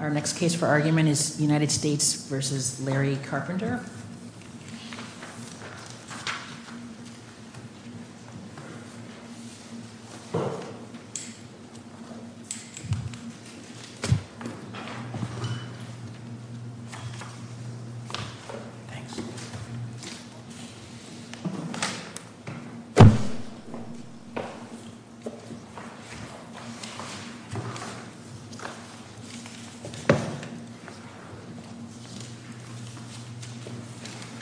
Our next case for argument is United States v. Larry Carpenter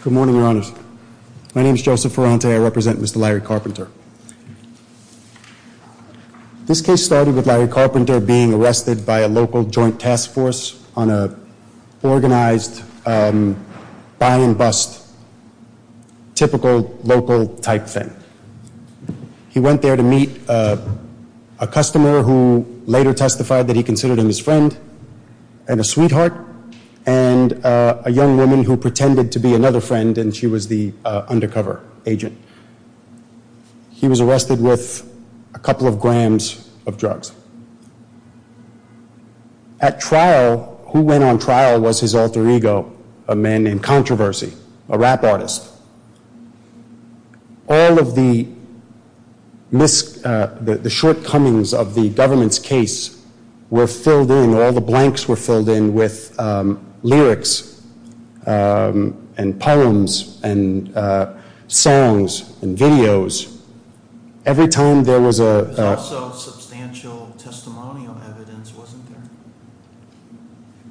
Good morning, your honors. My name is Joseph Ferrante. I represent Mr. Larry Carpenter. This case started with Larry Carpenter being arrested by a local joint task force on a organized buy and bust, typical local type thing. He went there to meet a customer who later testified that he considered him his friend and a sweetheart and a young woman who pretended to be another friend and she was the undercover agent. He was arrested with a couple of grams of drugs. At trial, who went on trial was his alter ego, a man named Larry. The shortcomings of the government's case were filled in, all the blanks were filled in, with lyrics and poems and songs and videos. Every time there was a... There was also substantial testimonial evidence, wasn't there?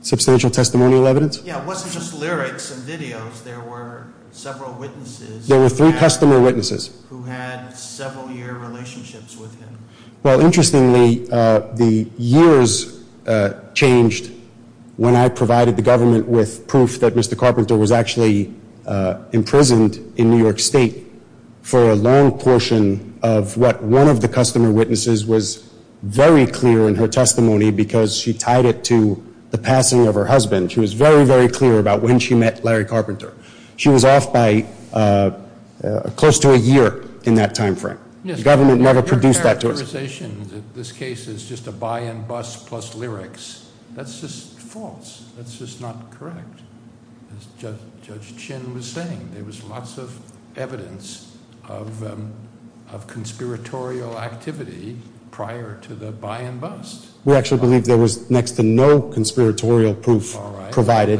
Substantial testimonial evidence? Yeah, it wasn't just lyrics and videos. There were several witnesses... Well, interestingly, the years changed when I provided the government with proof that Mr. Carpenter was actually imprisoned in New York State for a long portion of what one of the customer witnesses was very clear in her testimony because she tied it to the passing of her husband. She was very, very clear about when she met Larry Carpenter. She was off by close to a year in that time frame. The government never produced that to us. Your characterization that this case is just a buy and bust plus lyrics, that's just false. That's just not correct. As Judge Chin was saying, there was lots of evidence of conspiratorial activity prior to the buy and bust. We actually believe there was next to no conspiratorial proof provided.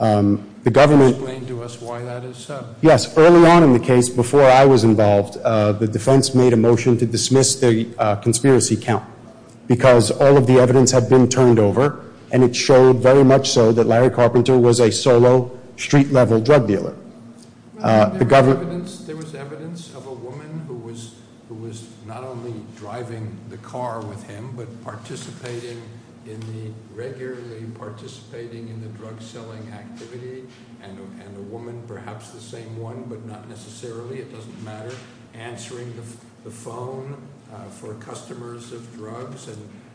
Explain to us why that is so. Yes, early on in the case, before I was involved, the defense made a motion to dismiss the conspiracy count because all of the evidence had been turned over and it showed very much so that Larry Carpenter was a solo, street-level drug dealer. There was evidence of a woman who was not only driving the car with him but participating in the regularly participating in the drug selling activity and a woman, perhaps the same one, but not necessarily, it doesn't matter, answering the phone for customers of drugs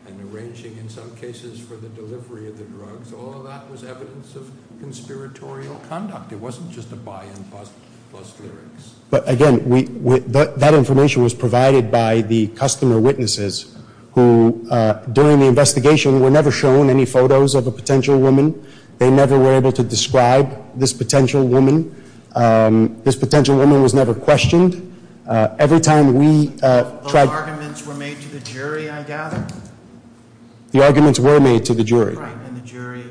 and arranging in some cases for the delivery of the drugs. All of that was evidence of conspiratorial conduct. It wasn't just a buy and bust plus lyrics. But again, that information was provided by the customer witnesses who, during the investigation, were never shown any photos of a potential woman. They never were able to describe this potential woman. This potential woman was never questioned. Those arguments were made to the jury, I gather? The arguments were made to the jury. And the jury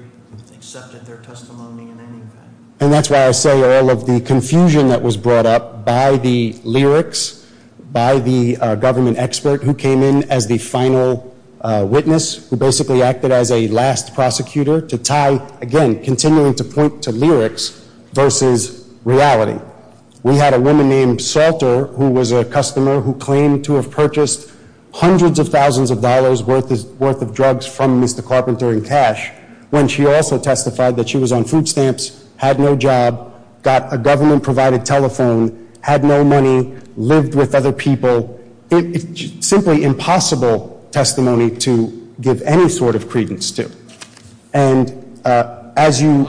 accepted their testimony in any way. And that's why I say all of the confusion that was brought up by the lyrics, by the government expert who came in as the final witness, who basically acted as a last prosecutor to tie, again, continuing to point to lyrics versus reality. We had a woman named Salter who was a customer who claimed to have purchased hundreds of carpenters in cash when she also testified that she was on food stamps, had no job, got a government-provided telephone, had no money, lived with other people. It's simply impossible testimony to give any sort of credence to. And as you-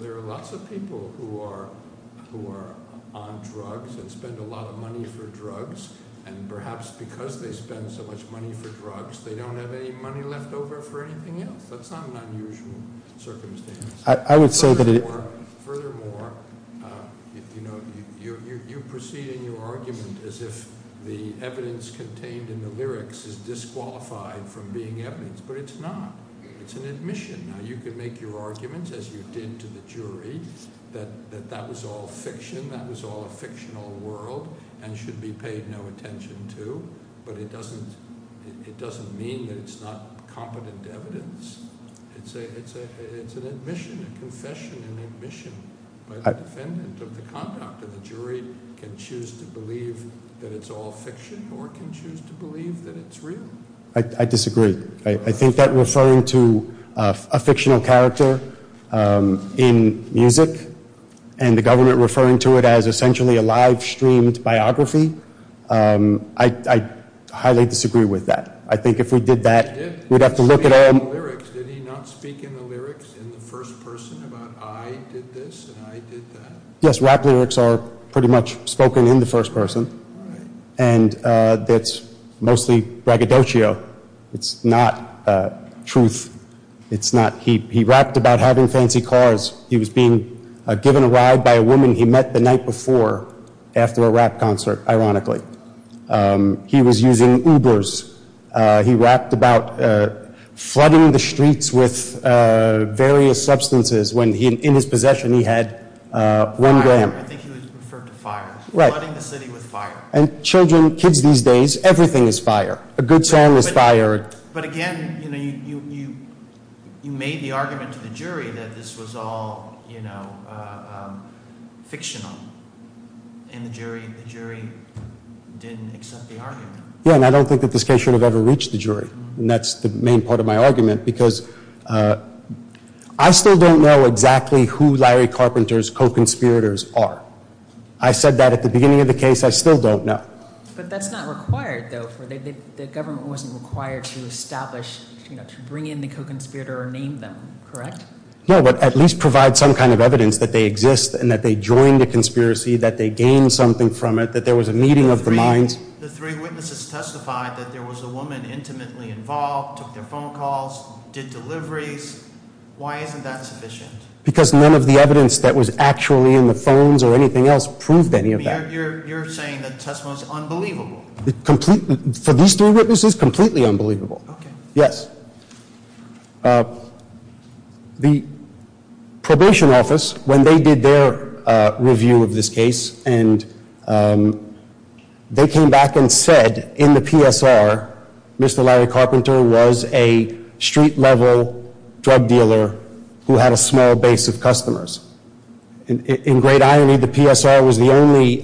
There are lots of people who are on drugs and spend a lot of money for drugs. And perhaps because they spend so much money for drugs, they don't have any money left over for anything else. That's not an unusual circumstance. I would say that- Furthermore, you proceed in your argument as if the evidence contained in the lyrics is disqualified from being evidence. But it's not. It's an admission. Now, you can make your arguments, as you did to the jury, that that was all fiction, that was all a fictional world and should be paid no attention to. But it doesn't mean that it's not competent evidence. It's an admission, a confession, an admission. The defendant of the conduct of the jury can choose to believe that it's all fiction or can choose to believe that it's real. I disagree. I think that referring to a fictional character in music and the government referring to it as essentially a live-streamed biography, I highly disagree with that. I think if we did that, we'd have to look at all- Did he not speak in the lyrics in the first person about, I did this and I did that? Yes, rap lyrics are pretty much spoken in the first person. And that's mostly braggadocio. It's not truth. He rapped about having fancy cars. He was being given a ride by a woman he met the night before after a rap concert, ironically. He was using Ubers. He rapped about flooding the streets with various substances when in his possession he had one gram. I think he was referring to fire. Right. Flooding the city with fire. And children, kids these days, everything is fire. A good song is fire. But again, you made the argument to the jury that this was all fictional. And the jury didn't accept the argument. Yeah, and I don't think that this case should have ever reached the jury. And that's the main part of my argument because I still don't know exactly who Larry Carpenter's co-conspirators are. I said that at the beginning of the case. I still don't know. But that's not required, though. The government wasn't required to establish, to bring in the co-conspirator or name them, correct? No, but at least provide some kind of evidence that they exist and that they joined the conspiracy, that they gained something from it, that there was a meeting of the minds. The three witnesses testified that there was a woman intimately involved, took their phone calls, did deliveries. Why isn't that sufficient? Because none of the evidence that was actually in the phones or anything else proved any of that. You're saying that testimony is unbelievable. Completely. For these three witnesses, completely unbelievable. Yes. The probation office, when they did their review of this case, and they came back and said, in the PSR, Mr. Larry Carpenter was a street-level drug dealer who had a small base of customers. In great irony, the PSR was the only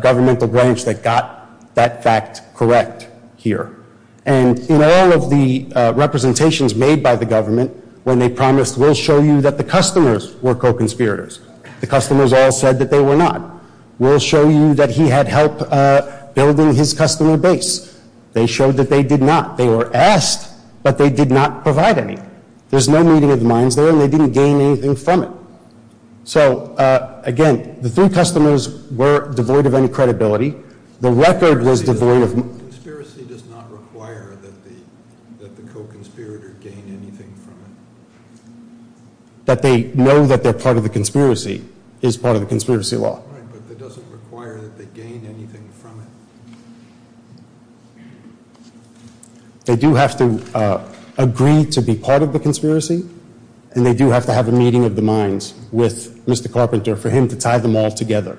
governmental branch that got that fact correct here. And in all of the representations made by the government, when they promised, we'll show you that the customers were co-conspirators, the customers all said that they were not. We'll show you that he had help building his customer base. They showed that they did not. They were asked, but they did not provide anything. There's no meeting of the minds there, and they didn't gain anything from it. So, again, the three customers were devoid of any credibility. The record was devoid of... Conspiracy does not require that the co-conspirator gain anything from it. That they know that they're part of the conspiracy is part of the conspiracy law. Right, but that doesn't require that they gain anything from it. They do have to agree to be part of the conspiracy, and they do have to have a meeting of the minds with Mr. Carpenter for him to tie them all together.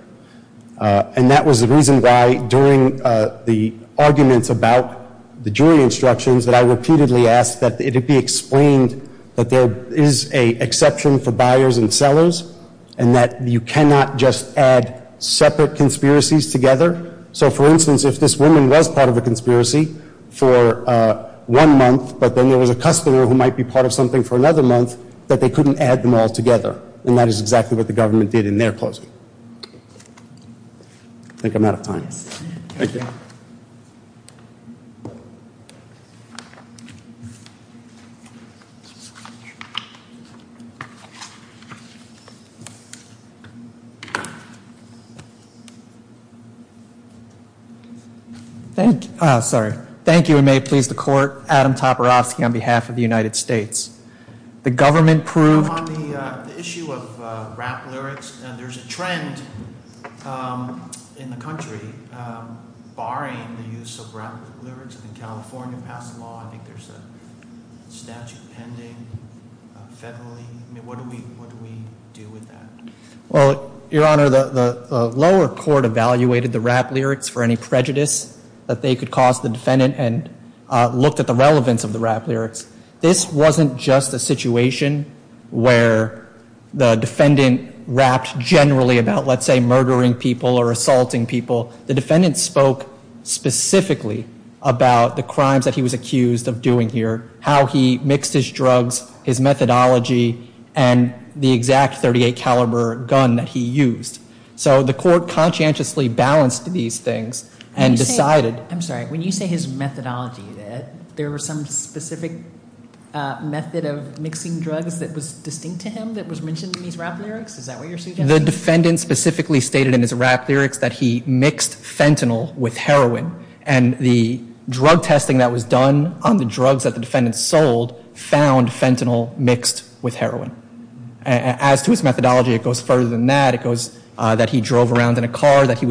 And that was the reason why, during the arguments about the jury instructions, that I repeatedly asked that it be explained that there is an exception for buyers and sellers, and that you cannot just add separate conspiracies together. So, for instance, if this woman was part of a conspiracy for one month, but then there was a customer who might be part of something for another month, that they couldn't add them all together. And that is exactly what the government did in their closing. I think I'm out of time. Thank you. Sorry. Thank you, and may it please the court, Adam Toporowski on behalf of the United States. The government proved... On the issue of rap lyrics, there's a trend in the country barring the use of rap lyrics. In California, passed a law, I think there's a statute pending federally. I mean, what do we do with that? Well, Your Honor, the lower court evaluated the rap lyrics for any prejudice that they could cause the defendant and looked at the relevance of the rap lyrics. This wasn't just a situation where the defendant rapped generally about, let's say, murdering people or assaulting people. The defendant spoke specifically about the crimes that he was accused of doing here, how he mixed his drugs, his methodology, and the exact .38 caliber gun that he used. So the court conscientiously balanced these things and decided... I'm sorry. When you say his methodology, there was some specific method of mixing drugs that was distinct to him that was mentioned in his rap lyrics? Is that what you're suggesting? The defendant specifically stated in his rap lyrics that he mixed fentanyl with heroin and the drug testing that was done on the drugs that the defendant sold found fentanyl mixed with heroin. As to his methodology, it goes further than that. that he was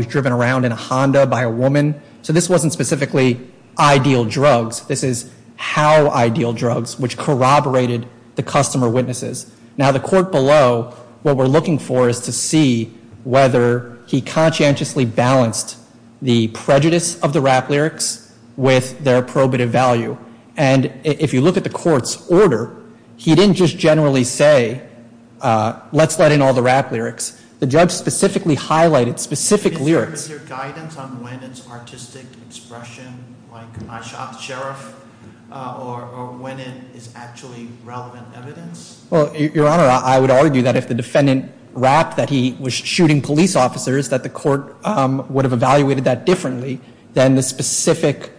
driven around in a Honda by a woman. So this wasn't specifically ideal drugs. This is how ideal drugs, which corroborated the customer witnesses. Now, the court below, what we're looking for is to see whether he conscientiously balanced the prejudice of the rap lyrics with their probative value. And if you look at the court's order, he didn't just generally say, let's let in all the rap lyrics. The judge specifically highlighted specific lyrics. Is there guidance on when it's artistic expression like I shot the sheriff or when it is actually relevant evidence? Your Honor, I would argue that if the defendant rapped that he was shooting police officers, that the court would have evaluated that differently than the specific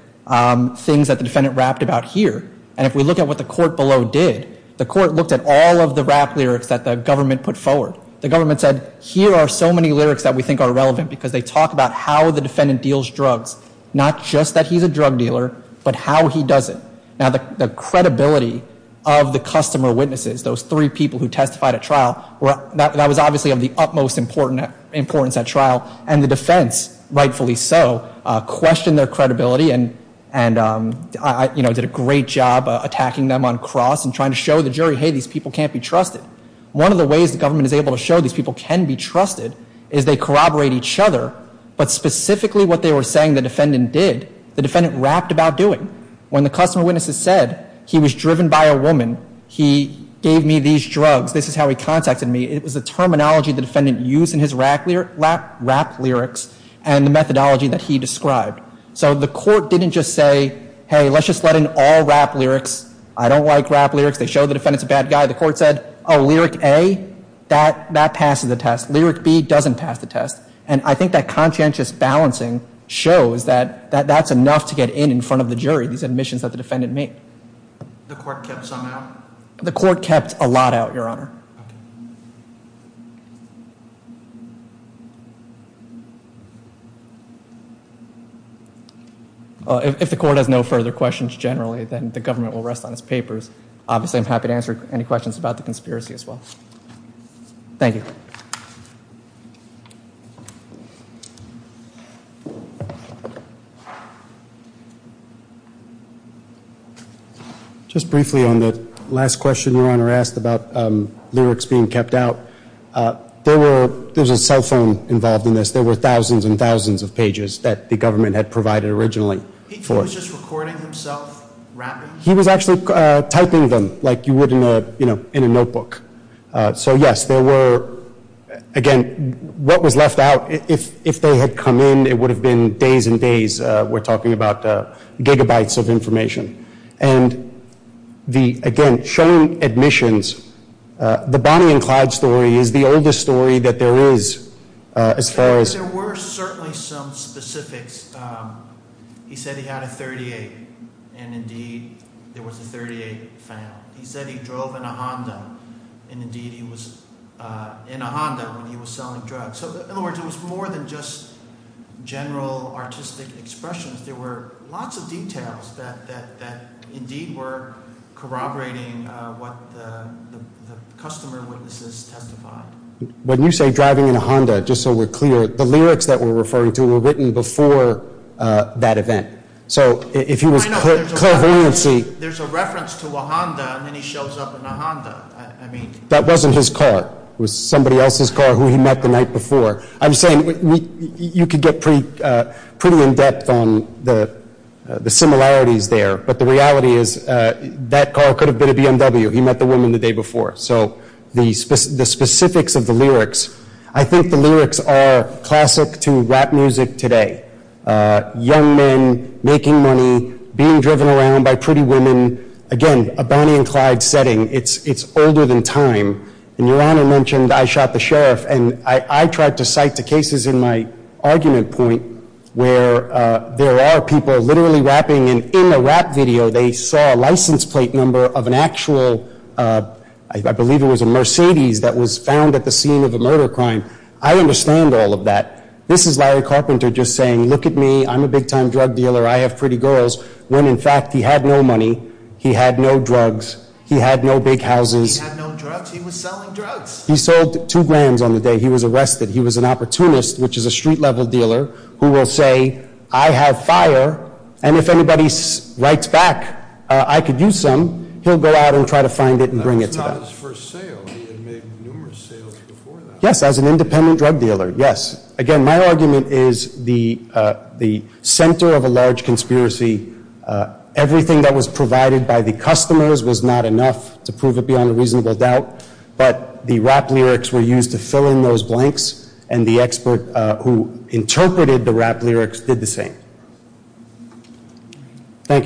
things that the defendant rapped about here. And if we look at what the court below did, the court looked at all of the rap lyrics that the government put forward. The government said, here are so many lyrics that we think are relevant because they talk about how the defendant deals drugs. Not just that he's a drug dealer, but how he does it. Now, the credibility of the customer witnesses, those three people who testified at trial, that was obviously of the utmost importance at trial. And the defense, rightfully so, questioned their credibility and did a great job attacking them on cross and trying to show the jury, hey, these people can't be trusted. One of the ways the government is able to show these people can be trusted is they corroborate each other but specifically what they were saying the defendant did, the defendant rapped about doing. When the customer witnesses said, he was driven by a woman, he gave me these drugs, this is how he contacted me, it was the terminology the defendant used in his rap lyrics and the methodology that he described. So the court didn't just say, hey, let's just let in all rap lyrics. I don't like rap lyrics. They show the defendant's a bad guy. The court said, oh, lyric A, that passes the test. Lyric B doesn't pass the test. And I think that conscientious balancing shows that that's enough to get in in front of the jury, these admissions that the defendant made. The court kept some out? The court kept a lot out, Your Honor. If the court has no further questions generally, then the government will rest on its papers. Obviously, I'm happy to answer any questions about the conspiracy as well. Thank you. Just briefly on the last question Your Honor asked about lyrics being kept out. There was a cell phone involved in this. There were thousands and thousands of pages that the government had provided originally. He was just recording himself rapping? He was actually typing them like you would in a notebook. So yes, there were again, what was left out if they had come in it would have been days and days. We're talking about gigabytes of information. And again, showing admissions the Bonnie and Clyde story is the oldest story that there is as far as There were certainly some specifics. He said he had a 38 and indeed there was a 38 found. He said he drove in a Honda and indeed he was in a Honda when he was selling drugs. So in other words, it was more than just general artistic expressions. There were lots of details that indeed were corroborating what the customer witnesses testified. When you say driving in a Honda, just so we're clear the lyrics that we're referring to were written before that event. So if he was clairvoyancy There's a reference to a Honda and then he shows up in a Honda. That wasn't his car. It was somebody else's car who he met the night before. I'm saying you could get pretty in depth on the similarities there but the reality is that car could have been a BMW. He met the woman the day before. So the specifics of the lyrics I think the lyrics are classic to rap music today. Young men making money being driven around by pretty women again a Bonnie and Clyde setting it's older than time and your honor mentioned I shot the sheriff and I tried to cite the cases in my argument point where there are people literally rapping and in a rap video they saw a license plate number of an actual I believe it was a Mercedes that was found at the scene of a murder crime. I understand all of that. This is Larry Carpenter just saying look at me I'm a big time drug dealer I have pretty girls when in fact he had no money he had no drugs he had no big houses he was selling drugs he sold two grand on the day he was arrested he was an opportunist which is a street level dealer who will say I have fire and if anybody writes back I could use some he'll go out and try to find it and bring it to them. Yes as an independent drug dealer yes again my argument is the center of a large conspiracy everything that was provided by the customers was not enough to prove it beyond a reasonable doubt but the rap lyrics were used to fill in those blanks and the expert who interpreted the rap lyrics did the same. Thank you your honor.